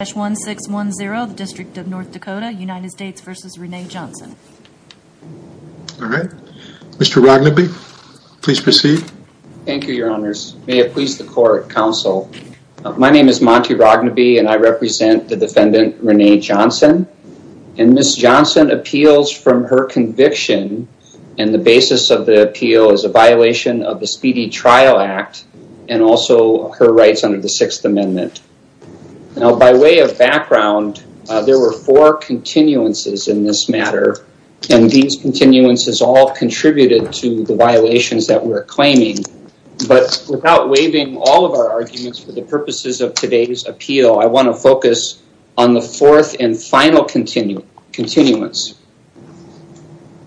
All right. Mr. Rognaby, please proceed. Thank you, your honors. May it please the court, counsel. My name is Monty Rognaby, and I represent the defendant, Rene Johnson. And Ms. Johnson appeals from her conviction, and the basis of the appeal is a violation of the Speedy Trial Act, and also her rights under the Sixth Amendment. Now, by way of background, there were four continuances in this matter, and these continuances all contributed to the violations that we're claiming. But without waiving all of our arguments for the purposes of today's appeal, I want to focus on the fourth and final continuance.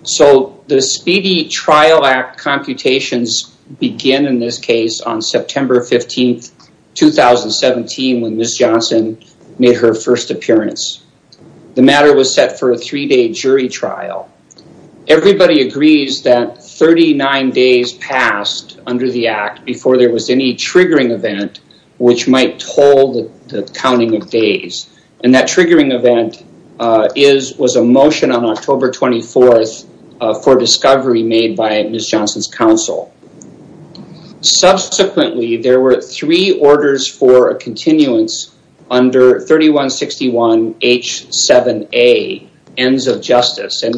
So the begin in this case on September 15th, 2017, when Ms. Johnson made her first appearance. The matter was set for a three-day jury trial. Everybody agrees that 39 days passed under the act before there was any triggering event which might toll the counting of days. And that triggering event was a motion on October 24th for discovery made by Ms. Johnson's counsel. Subsequently, there were three orders for a continuance under 3161 H7A, ends of justice. And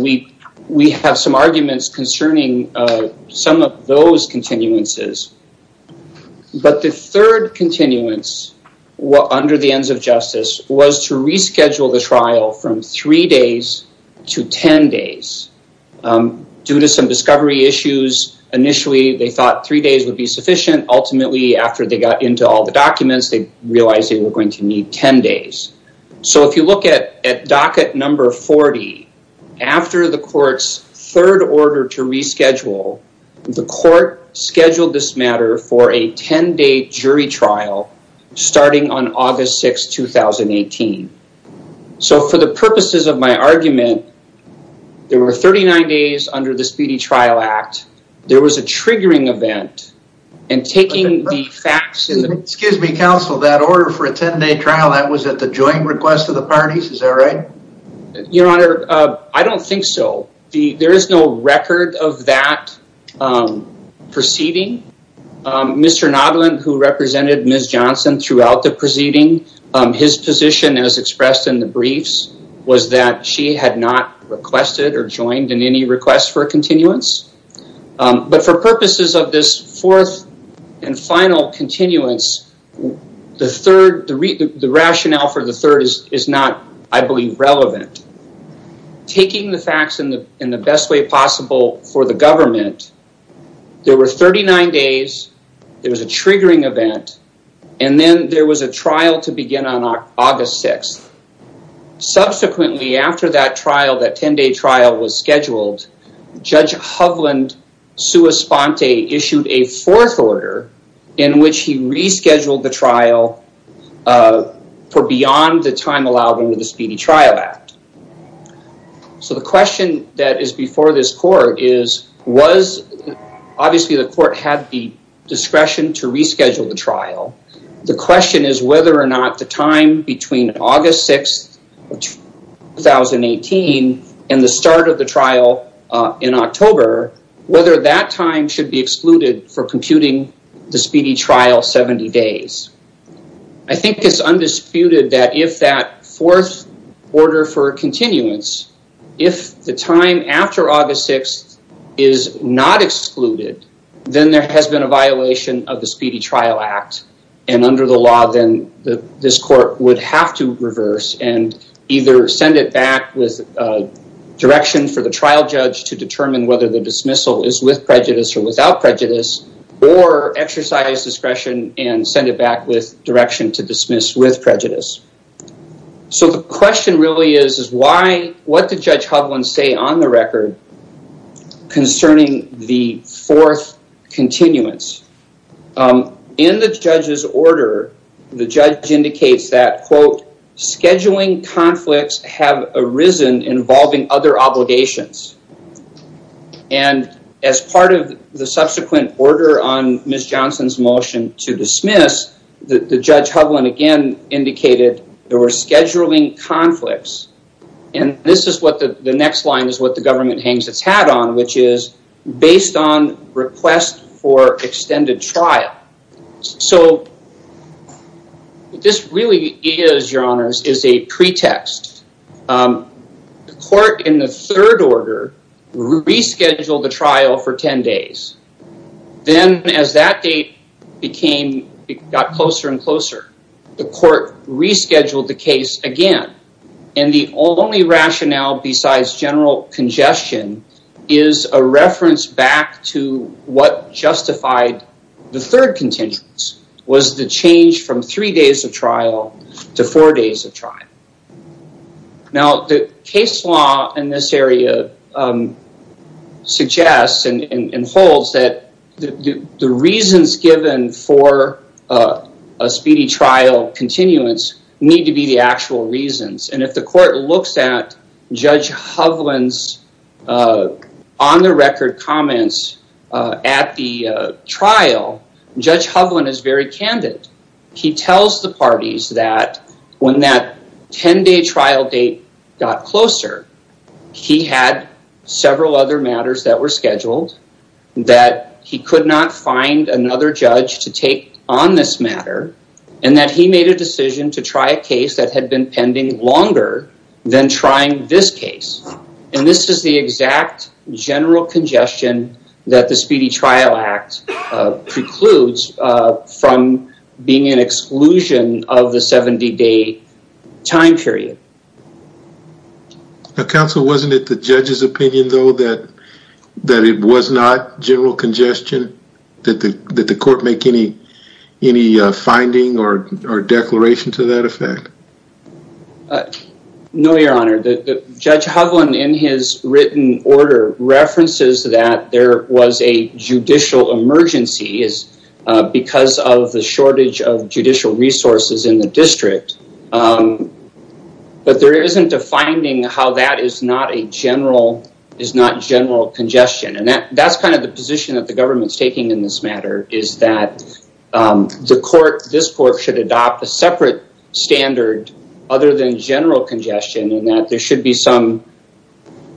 we have some arguments concerning some of those continuances. But the third continuance under the ends of the act was to reschedule the trial from three days to 10 days. Due to some discovery issues, initially, they thought three days would be sufficient. Ultimately, after they got into all the documents, they realized they were going to need 10 days. So if you look at docket number 40, after the court's third order to reschedule, the court scheduled this matter for a 10-day jury trial starting on August 6, 2018. So for the purposes of my argument, there were 39 days under the Speedy Trial Act. There was a triggering event and taking the facts. Excuse me, counsel, that order for a 10-day trial, that was at the joint request of the parties, is that right? Your Honor, I don't think so. There is no record of that proceeding. Mr. Nodland, who represented Ms. Johnson throughout the proceeding, his position as expressed in the briefs was that she had not requested or joined in any request for a continuance. But for purposes of this fourth and final continuance, the rationale for the third is not, I believe, relevant. Taking the facts in the best way possible for the government, there were 39 days, there was a triggering event, and then there was a trial to begin on August 6. Subsequently, after that trial, that 10-day trial was scheduled, Judge Hovland sua sponte issued a fourth order in which he rescheduled the trial for beyond the time allowed under the Speedy Trial Act. So the question that is before this was, obviously, the court had the discretion to reschedule the trial. The question is whether or not the time between August 6, 2018, and the start of the trial in October, whether that time should be excluded for computing the Speedy Trial 70 days. I think it's undisputed that if that fourth order for continuance, if the time after August 6 is not excluded, then there has been a violation of the Speedy Trial Act. And under the law, then this court would have to reverse and either send it back with direction for the trial judge to determine whether the dismissal is with prejudice or without prejudice, or exercise discretion and send it back with direction to dismiss with prejudice. So the question really is, what did Judge Hovland say on the record concerning the fourth continuance? In the judge's order, the judge indicates that, quote, scheduling conflicts have arisen involving other obligations. And as part of the subsequent order on Ms. Johnson's motion to dismiss, the Judge Hovland again indicated there were scheduling conflicts. And this is what the next line is what the government hangs its hat on, which is based on request for extended trial. So this really is, your honors, is a pretext. The court in the third order rescheduled the trial for 10 days. Then as that date got closer and closer, the court rescheduled the case again. And the only rationale besides general congestion is a reference back to what justified the third continuance, was the change from three days of trial to four days of trial. Now, the case law in this area suggests and holds that the reasons given for a speedy trial continuance need to be the actual reasons. And if the court looks at Judge Hovland's on-the-record comments at the trial, Judge Hovland is very candid. He tells the parties that when that 10-day trial date got closer, he had several other matters that were scheduled, that he could not find another judge to take on this matter, and that he made a decision to try a case that had been pending longer than trying this case. And this is the exact general congestion that the Speedy Trial Act precludes from being an exclusion of the 70-day time period. Now, counsel, wasn't it the judge's opinion, though, that it was not general congestion? Did the court make any finding or declaration to that effect? No, your honor. Judge Hovland's written order references that there was a judicial emergency because of the shortage of judicial resources in the district, but there isn't a finding how that is not general congestion. And that's kind of the position that the government's taking in this matter, is that this court should adopt a separate standard other than general congestion, and that there should be some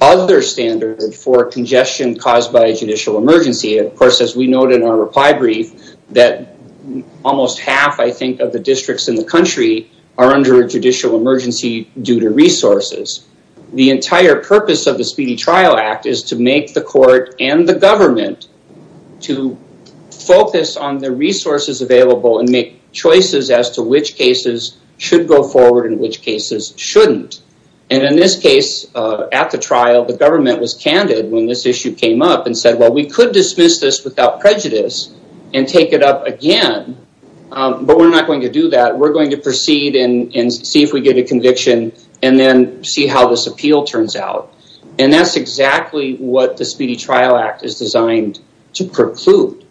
other standard for congestion caused by a judicial emergency. Of course, as we noted in our reply brief, that almost half, I think, of the districts in the country are under a judicial emergency due to resources. The entire purpose of the Speedy Trial Act is to make the court and the government to focus on the resources available and make choices as to which cases should go forward and which cases shouldn't. And in this case, at the trial, the government was candid when this issue came up and said, well, we could dismiss this without prejudice and take it up again, but we're not going to do that. We're going to proceed and see if we get a conviction and then see how this appeal turns out. And that's exactly what the Speedy Trial Act is designed to preclude.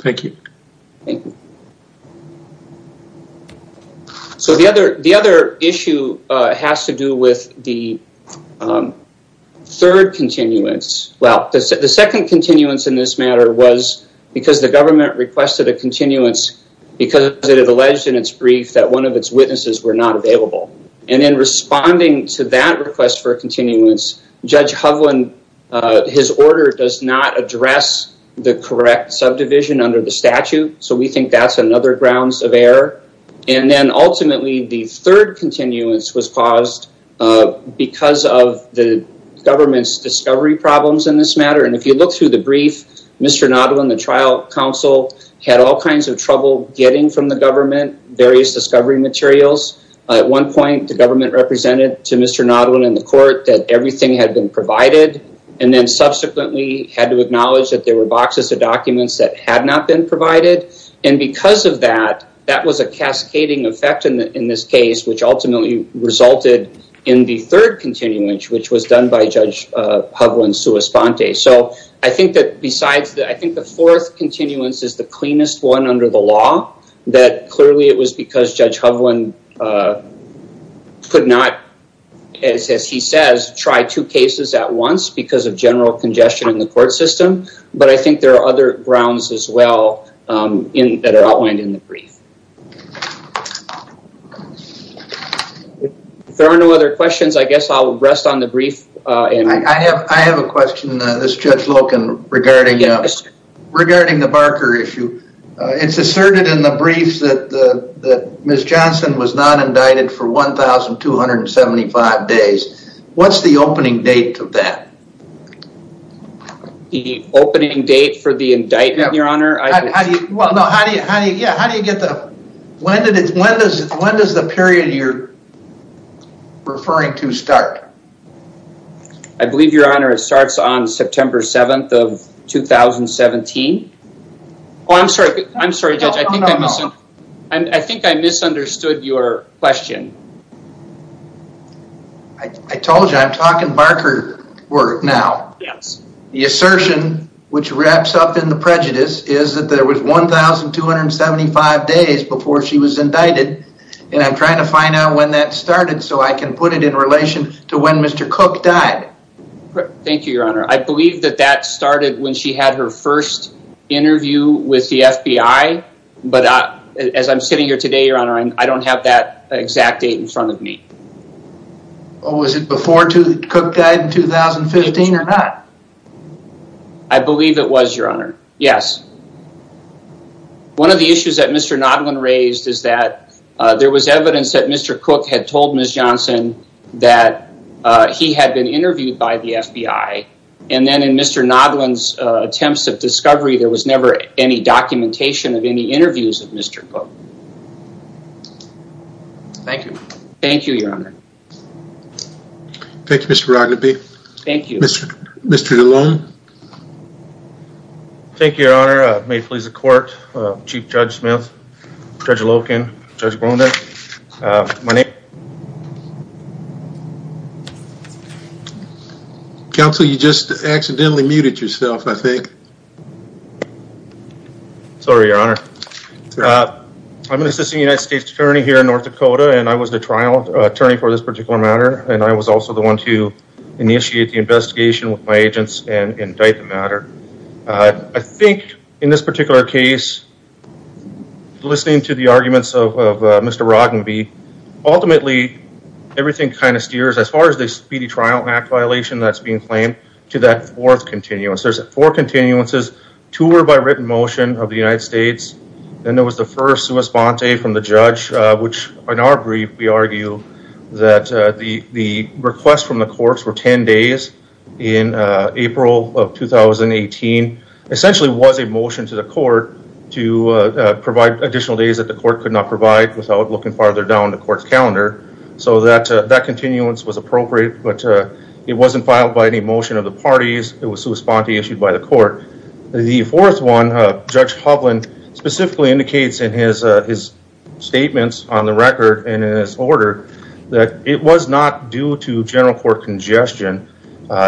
Thank you. So the other issue has to do with the third continuance. Well, the second continuance in this matter was because the government requested a continuance because it alleged in its brief that one of its witnesses were not available. And in responding to that request for a continuance, Judge Hovland, his order does not address the correct subdivision under the statute. So we think that's another grounds of error. And then ultimately, the third continuance was caused because of the government's discovery problems in this matter. And if you look through the brief, Mr. Nodwin, the trial counsel, had all kinds of trouble getting from the government various discovery materials. At one point, the government represented to Mr. Nodwin and the court that everything had been provided. And then subsequently had to acknowledge that there were boxes of documents that had not been provided. And because of that, that was a cascading effect in this case, which ultimately resulted in the third continuance, which was done by Judge Hovland's sua sponte. So I think that besides that, I think the fourth continuance is the cleanest one under the law, that clearly it was because Judge Hovland could not, as he says, try two cases at once because of general congestion in the court system. But I think there are other grounds as well that are outlined in the brief. If there are no other questions, I guess I'll rest on the brief. I have a question, Judge Loken, regarding the Barker issue. It's asserted in the brief that Ms. Johnson was not indicted for 1,275 days. What's the opening date for that? The opening date for the indictment, Your Honor? Yeah, how do you get the... When does the period you're referring to start? I believe, Your Honor, it starts on September 7th of 2017. Oh, I'm sorry, Judge. I think I misunderstood your question. I told you I'm talking Barker work now. Yes. The assertion, which wraps up in the prejudice, is that there was 1,275 days before she was indicted. And I'm trying to find out when that started so I can put it in relation to when Mr. Cook died. Thank you, Your Honor. I believe that that started when she had her first interview with the FBI. But as I'm sitting here today, Your Honor, I don't have that exact date in front of me. Was it before Cook died in 2015 or not? I believe it was, Your Honor. Yes. One of the issues that Mr. Nodland raised is that there was evidence that Mr. Cook had told Ms. Johnson that he had been interviewed by the FBI. And then in Mr. Nodland's attempts of discovery, there was never any documentation of any interviews of Mr. Cook. Thank you. Thank you, Your Honor. Thank you, Mr. Rodnaby. Thank you. Mr. DeLone. Thank you, Your Honor. May it please the court, Chief Judge Smith, Judge Loken, Judge Grondin. My name... Counsel, you just accidentally muted yourself, I think. Sorry, Your Honor. I'm an assistant United States attorney here in North Dakota and I was the trial attorney for this particular matter. And I was also the one to initiate the investigation with my agents and indict the matter. I think in this particular case, listening to the arguments of Mr. Rodnaby, ultimately, everything kind of steers, as far as the speedy trial act violation that's being claimed, to that fourth continuance. There's four continuances, two were by written motion of the United States, and there was the first sua sponte from the judge, which in our brief, we argue that the request from the courts were 10 days in April of 2018, essentially was a without looking farther down the court's calendar. So that continuance was appropriate, but it wasn't filed by any motion of the parties, it was sua sponte issued by the court. The fourth one, Judge Hovland specifically indicates in his statements on the record and in his order, that it was not due to general court congestion.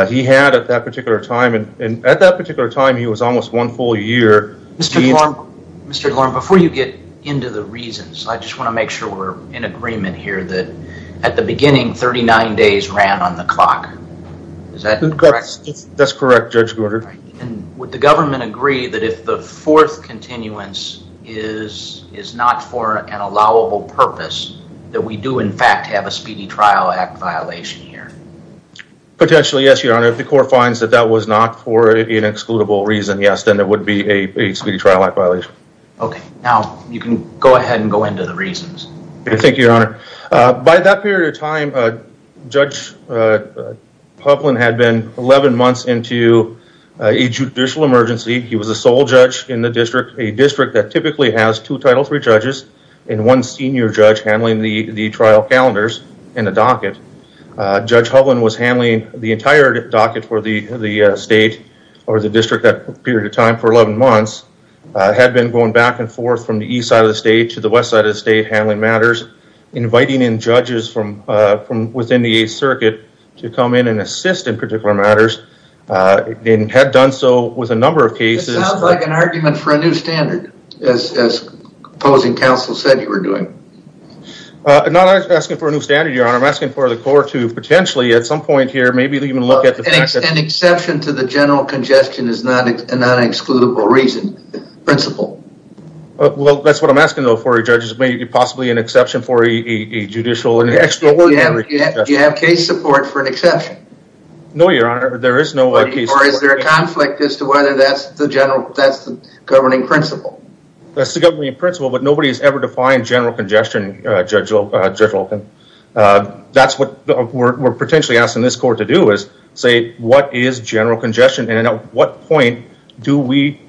He had at that particular time, and at that particular time, he was almost one full year. Mr. DeLone, before you get into the reasons, I just want to make sure we're in agreement here that at the beginning, 39 days ran on the clock. Is that correct? That's correct, Judge Gorter. And would the government agree that if the fourth continuance is not for an allowable purpose, that we do in fact have a speedy trial act violation here? Potentially, yes, your honor. If the court finds that that was not for an excludable reason, yes, then there would be a speedy trial act violation. Okay, now you can go ahead and go into the reasons. Thank you, your honor. By that period of time, Judge Hovland had been 11 months into a judicial emergency. He was the sole judge in the district, a district that typically has two title three judges and one senior judge handling the trial calendars and the docket. Judge Hovland was handling the entire docket for the state or the district that period of time for 11 months, had been going back and forth from the east side of the state to the west side of the state handling matters, inviting in judges from within the 8th circuit to come in and assist in particular matters, and had done so with a number of cases. It sounds like an argument for a new standard, as opposing counsel said you were doing. I'm not asking for a new standard, your honor. I'm asking for the court to potentially at some point here maybe even look at the fact that... An exception to the general congestion is not an excludable reason, principle. Well, that's what I'm asking, though, for a judge is maybe possibly an exception for a judicial... Do you have case support for an exception? No, your honor, there is no... Or is there a conflict as to whether that's the general, that's the governing principle? That's the principle, but nobody has ever defined general congestion, Judge Olkin. That's what we're potentially asking this court to do, is say what is general congestion and at what point do we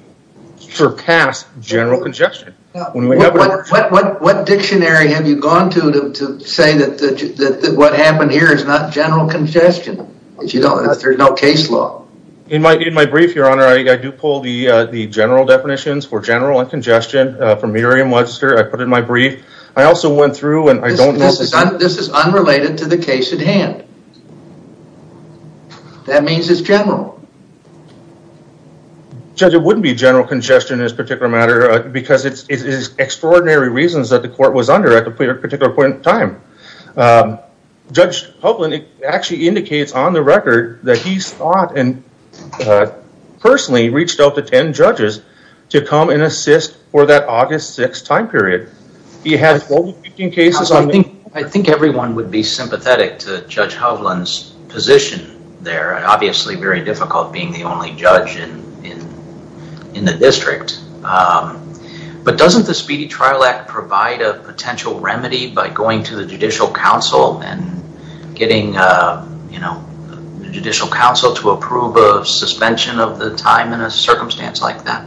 surpass general congestion? What dictionary have you gone to to say that what happened here is not general congestion, if there's no case law? In my brief, your honor, I do pull the general definitions for general and congestion from Merriam-Webster, I put in my brief. I also went through and I don't... This is unrelated to the case at hand. That means it's general. Judge, it wouldn't be general congestion in this particular matter because it's extraordinary reasons that the court was under at a particular point in time. Judge Hovland actually indicates on the record that he's thought and personally reached out to 10 judges to come and assist for that August 6th time period. He had 15 cases on... I think everyone would be sympathetic to Judge Hovland's position there. Obviously, very difficult being the only judge in the district, but doesn't the Speedy Trial Act provide a potential remedy by going to the Judicial Council and getting the Judicial Council to do something like that?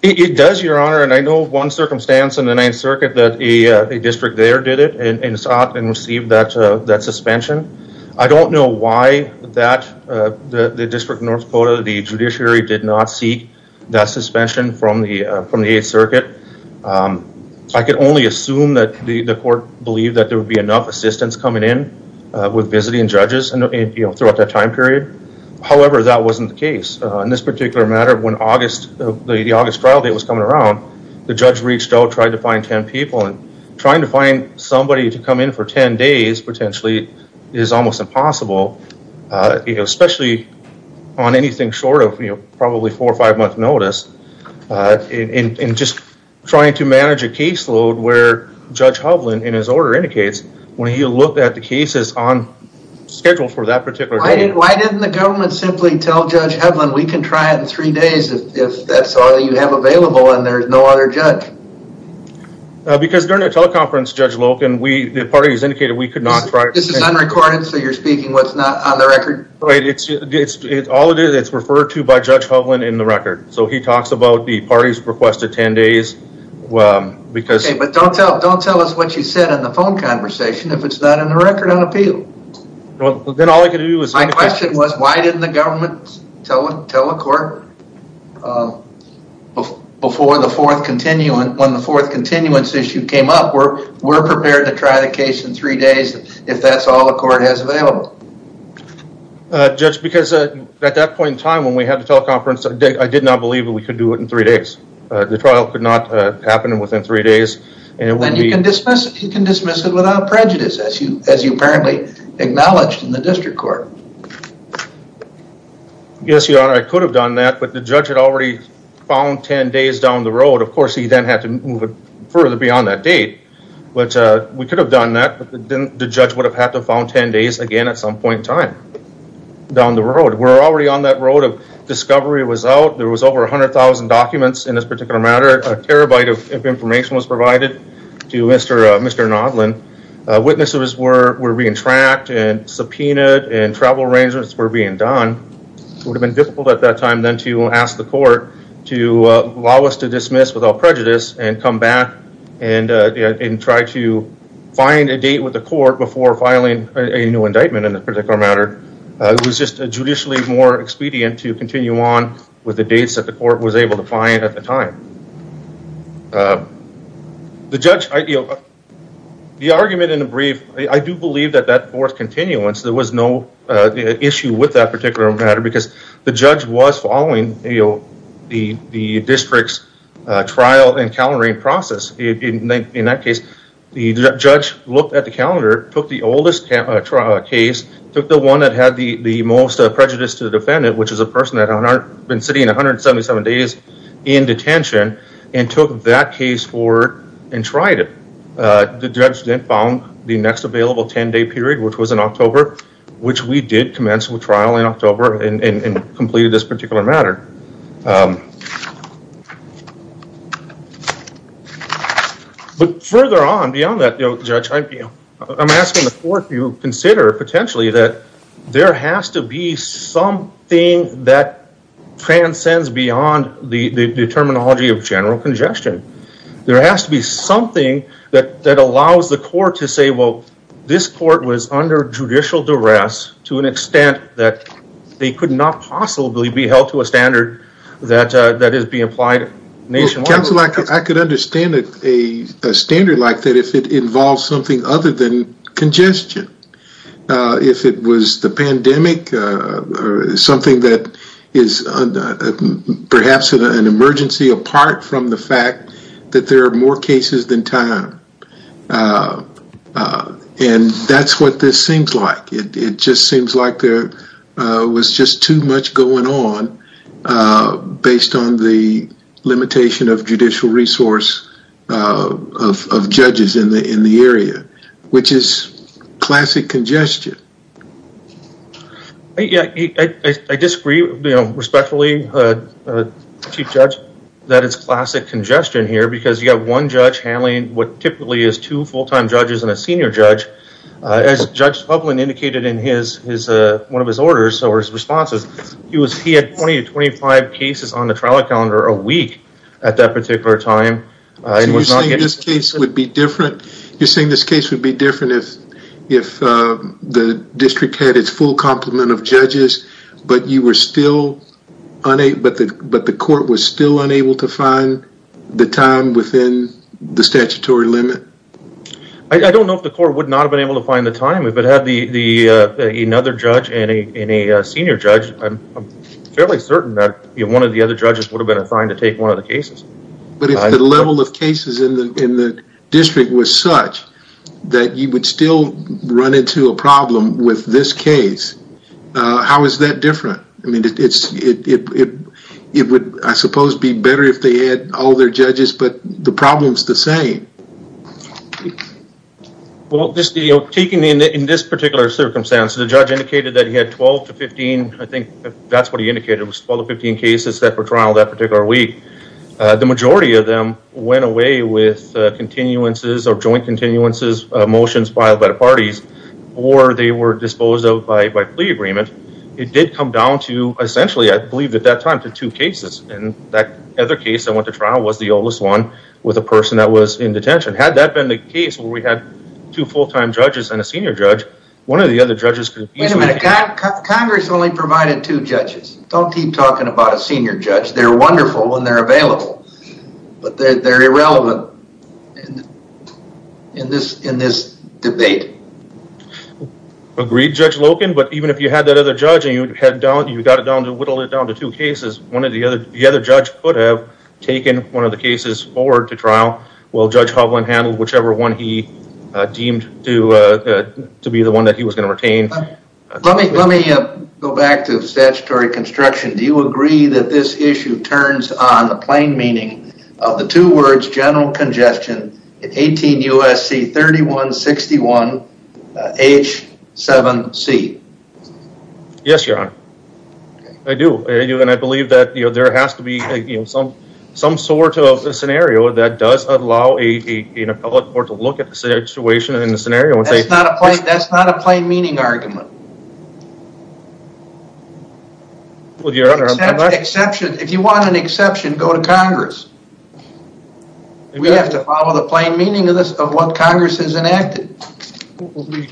It does, your honor, and I know one circumstance in the 9th Circuit that a district there did it and sought and received that suspension. I don't know why the district of North Dakota, the judiciary did not seek that suspension from the 8th Circuit. I can only assume that the court believed that there would be enough assistance coming in with visiting judges throughout that time period. However, that wasn't the case. In this particular matter, when the August trial date was coming around, the judge reached out, tried to find 10 people, and trying to find somebody to come in for 10 days potentially is almost impossible, especially on anything short of probably four or five-month notice, and just trying to manage a caseload where Judge Hovland, in his order, indicates when he looked at the cases on schedule for that particular day. Why didn't the government simply tell Judge Hovland we can try it in three days if that's all you have available and there's no other judge? Because during the teleconference, Judge Loken, the party has indicated we could not try it. This is unrecorded, so you're speaking what's not on the record? Right, all it is, it's referred to by Judge Hovland in the record, so he talks about the party's request of 10 days. Okay, but don't tell us what you said in the phone conversation if it's not in the record on appeal. Well, then all I could do is... My question was why didn't the government tell the court before the fourth continuance, when the fourth continuance issue came up, where we're prepared to try the case in three days if that's all the court has available? Judge, because at that point in time when we had the teleconference, I did not believe that we could do it in three days. The trial could not happen within three days, and it would be... As you apparently acknowledged in the district court. Yes, Your Honor, I could have done that, but the judge had already found 10 days down the road. Of course, he then had to move it further beyond that date, but we could have done that, but the judge would have had to found 10 days again at some point in time down the road. We're already on that road of discovery was out. There was over 100,000 documents in this were being tracked and subpoenaed and travel arrangements were being done. It would have been difficult at that time then to ask the court to allow us to dismiss with all prejudice and come back and try to find a date with the court before filing a new indictment in a particular matter. It was just a judicially more expedient to continue on with the dates that the court was I do believe that that fourth continuance, there was no issue with that particular matter because the judge was following the district's trial and calendaring process. In that case, the judge looked at the calendar, took the oldest trial case, took the one that had the most prejudice to the defendant, which is a person that had been sitting 177 days in detention, and took that case and tried it. The judge then found the next available 10-day period, which was in October, which we did commence with trial in October and completed this particular matter. But further on beyond that, Judge, I'm asking the court to consider potentially that there has to be something that transcends beyond the terminology of general congestion. There has to be something that allows the court to say, well, this court was under judicial duress to an extent that they could not possibly be held to a standard that is being applied. I could understand a standard like that if it involves something other than congestion. If it was the pandemic or something that is perhaps an emergency apart from the fact that there are more cases than time. And that's what this seems like. It just seems like there was just too much going on based on the limitation of judicial resource of judges in the area, which is classic congestion. I disagree respectfully, Chief Judge, that it's classic congestion here because you have one judge handling what typically is two full-time judges and a senior judge. As Judge Hovland indicated in one of his orders or his responses, he had 20 to 25 cases on the trial calendar a week at that particular time. You're saying this case would be different if the district had its full complement of judges, but the court was still unable to find the time within the statutory limit? I don't know if the court would not have been able to find the time. If it had another judge and a senior judge, I'm fairly certain that one of the other judges would have been assigned to take one of the cases. But if the level of cases in the problem with this case, how is that different? I mean, it would, I suppose, be better if they had all their judges, but the problem is the same. Well, in this particular circumstance, the judge indicated that he had 12 to 15, I think that's what he indicated, was 12 to 15 cases that were trialed that particular week. The majority of them went away with continuances or joint motions filed by the parties, or they were disposed of by plea agreement. It did come down to essentially, I believe at that time, to two cases. And that other case that went to trial was the oldest one with a person that was in detention. Had that been the case where we had two full-time judges and a senior judge, one of the other judges could have easily... Wait a minute. Congress only provided two judges. Don't keep talking about a senior judge. They're irrelevant in this debate. Agreed, Judge Loken, but even if you had that other judge and you got it down to, whittled it down to two cases, the other judge could have taken one of the cases forward to trial while Judge Hovland handled whichever one he deemed to be the one that he was going to retain. Let me go back to statutory construction. Do you agree that this issue turns on the plain meaning of the two words general congestion in 18 U.S.C. 3161 H7C? Yes, Your Honor. I do. I do. And I believe that there has to be some sort of a scenario that does allow a public court to look at the situation and the scenario and say... That's not a plain meaning argument. Well, Your Honor... If you want an exception, go to Congress. We have to follow the plain meaning of what Congress has enacted.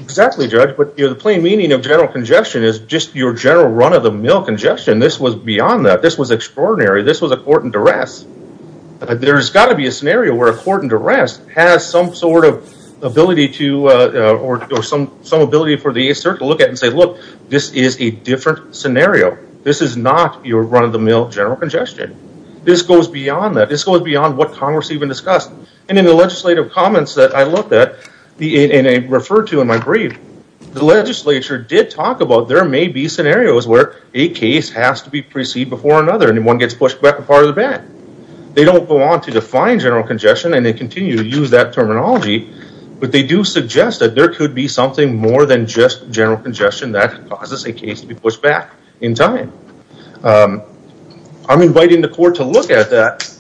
Exactly, Judge, but the plain meaning of general congestion is just your general run-of-the-mill congestion. This was beyond that. This was extraordinary. This was a court in duress. There's got to be a scenario where a court in duress has some sort of ability to or some ability for the 8th Circuit to look at and say, look, this is a different scenario. This is not your run-of-the-mill general congestion. This goes beyond that. This goes beyond what Congress even discussed. And in the legislative comments that I looked at and referred to in my brief, the legislature did talk about there may be scenarios where a case has to be preceded before another and one gets pushed back apart of the bat. They don't go on to define general congestion and they continue to use that terminology, but they do suggest that there could be something more than general congestion that causes a case to be pushed back in time. I'm inviting the court to look at that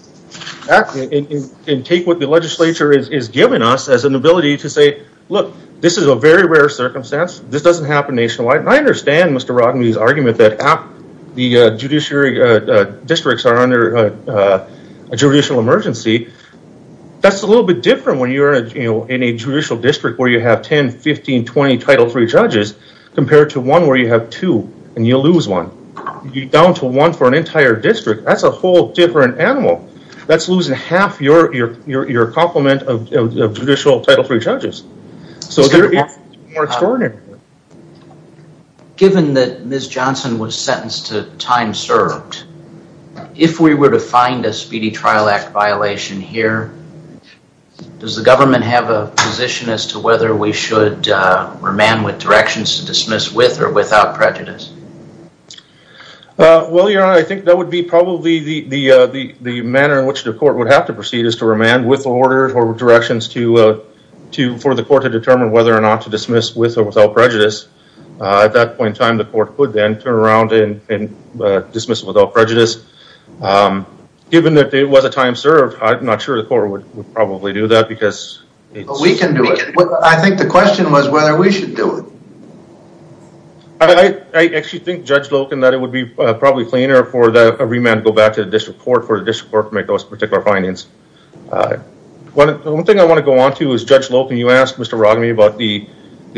and take what the legislature is giving us as an ability to say, look, this is a very rare circumstance. This doesn't happen nationwide. And I understand Mr. Rodney's argument that the judiciary districts are under a judicial emergency. That's a little bit different when in a judicial district where you have 10, 15, 20 Title III judges compared to one where you have two and you lose one. You're down to one for an entire district. That's a whole different animal. That's losing half your complement of judicial Title III judges. So it's more extraordinary. Given that Ms. Johnson was sentenced to time served, if we were to find a Speedy Trial Act here, does the government have a position as to whether we should remand with directions to dismiss with or without prejudice? Well, your honor, I think that would be probably the manner in which the court would have to proceed is to remand with orders or directions for the court to determine whether or not to dismiss with or without prejudice. At that point in time, the court could then turn around and was a time served. I'm not sure the court would probably do that because we can do it. I think the question was whether we should do it. I actually think Judge Loken that it would be probably cleaner for the remand to go back to the district court for the district court to make those particular findings. One thing I want to go on to is Judge Loken, you asked Mr. Rodney about the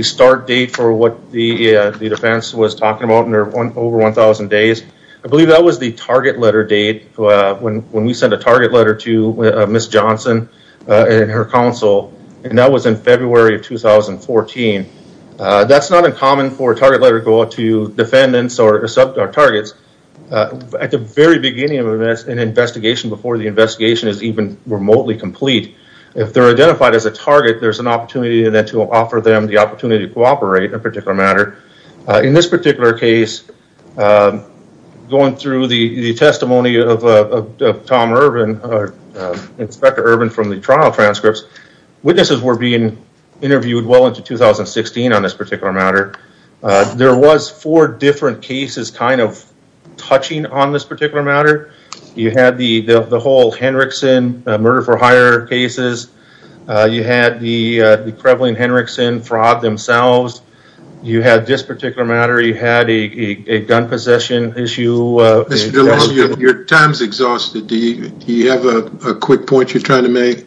start date for what the defense was talking over 1,000 days. I believe that was the target letter date when we sent a target letter to Ms. Johnson and her counsel, and that was in February of 2014. That's not uncommon for a target letter to go out to defendants or sub targets. At the very beginning of an investigation before the investigation is even remotely complete, if they're identified as a target, there's an opportunity then to offer them the opportunity to cooperate in a particular matter. In this particular case, going through the testimony of Inspector Urban from the trial transcripts, witnesses were being interviewed well into 2016 on this particular matter. There was four different cases kind of touching on this particular matter. You had the whole fraud themselves. You had this particular matter. You had a gun possession issue. Your time is exhausted. Do you have a quick point you're trying to make?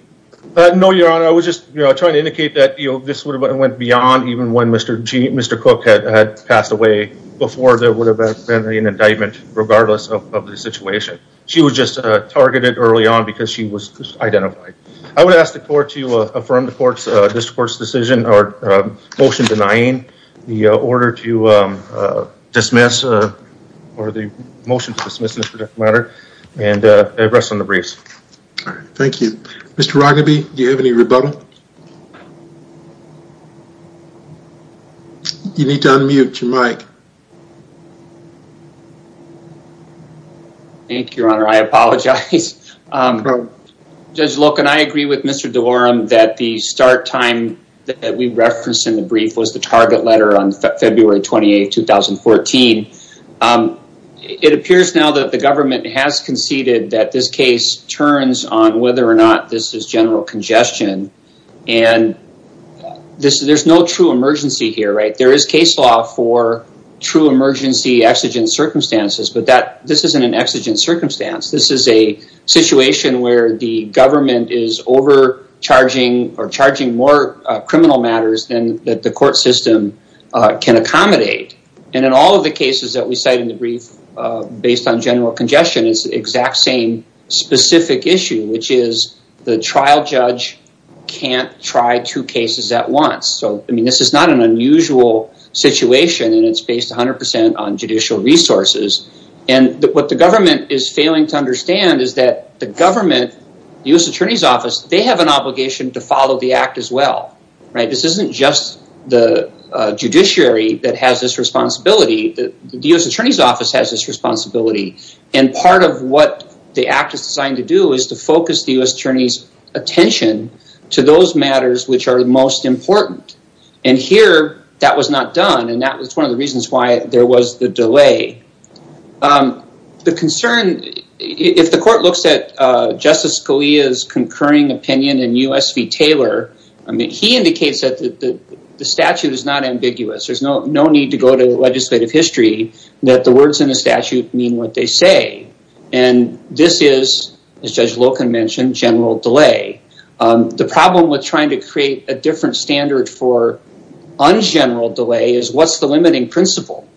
No, Your Honor. I was just trying to indicate that this would have went beyond even when Mr. Cook had passed away before there would have been an indictment regardless of the situation. She was just targeted early on because she was identified. I would ask the court to motion denying the order to dismiss or the motion to dismiss this particular matter and rest on the briefs. Thank you. Mr. Roggeby, do you have any rebuttal? You need to unmute your mic. Thank you, Your Honor. I apologize. Judge Locke and I agree with Mr. DeLorem that the start time that we referenced in the brief was the target letter on February 28, 2014. It appears now that the government has conceded that this case turns on whether or not this is general congestion. There's no true emergency here, right? There is case law for true emergency exigent circumstances, but this isn't an exigent circumstance. This is a situation where the criminal matters that the court system can accommodate. In all of the cases that we cite in the brief, based on general congestion, it's the exact same specific issue, which is the trial judge can't try two cases at once. This is not an unusual situation and it's based 100% on judicial resources. What the government is failing to understand is that the government, the U.S. Attorney's Office, they have an obligation to follow the act as well. This isn't just the judiciary that has this responsibility. The U.S. Attorney's Office has this responsibility. Part of what the act is designed to do is to focus the U.S. Attorney's attention to those matters which are most important. Here, that was not done. That was concurring opinion in U.S. v. Taylor. He indicates that the statute is not ambiguous. There's no need to go to legislative history that the words in the statute mean what they say. This is, as Judge Loken mentioned, general delay. The problem with trying to create a different standard for ungeneral delay is what's the limiting principle?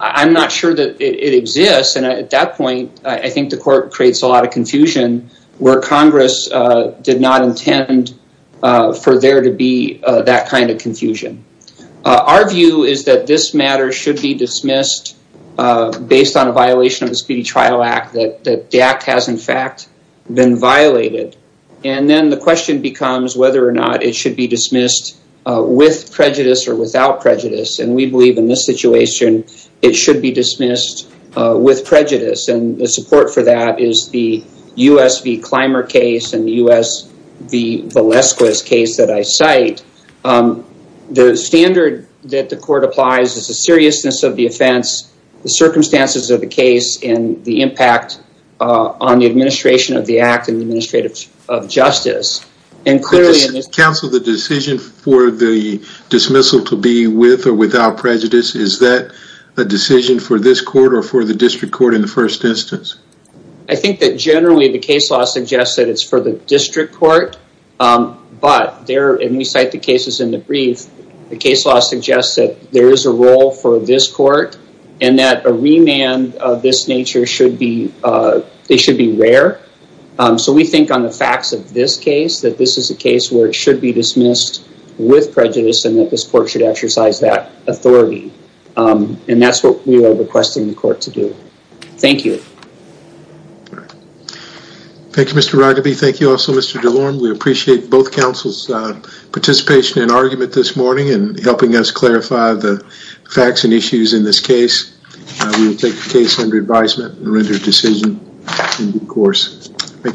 I'm not sure that it exists, and at that point, I think the court creates a lot of confusion where Congress did not intend for there to be that kind of confusion. Our view is that this matter should be dismissed based on a violation of the Speedy Trial Act, that the act has, in fact, been violated. Then the question becomes whether or not it should be dismissed with prejudice or without prejudice. We believe in this situation, it should be dismissed with prejudice. The support for that is the U.S. v. Clymer case and the U.S. v. Valesquez case that I cite. The standard that the court applies is the seriousness of the offense, the circumstances of the case, and the impact on the administration of the act and the administrative of justice. And clearly... Counsel, the decision for the dismissal to be with or without prejudice, is that a decision for this court or for the district court in the first instance? I think that generally the case law suggests that it's for the district court, but there, and we cite the cases in the brief, the case law suggests that there is a role for this court and that a remand of this nature should be, they should be rare. So we think on the facts of this that this is a case where it should be dismissed with prejudice and that this court should exercise that authority. And that's what we are requesting the court to do. Thank you. Thank you, Mr. Ruggeby. Thank you also, Mr. DeLorme. We appreciate both counsel's participation and argument this morning in helping us clarify the facts and issues in this case. We will take the case under advisement and render a decision in due course. Thank you.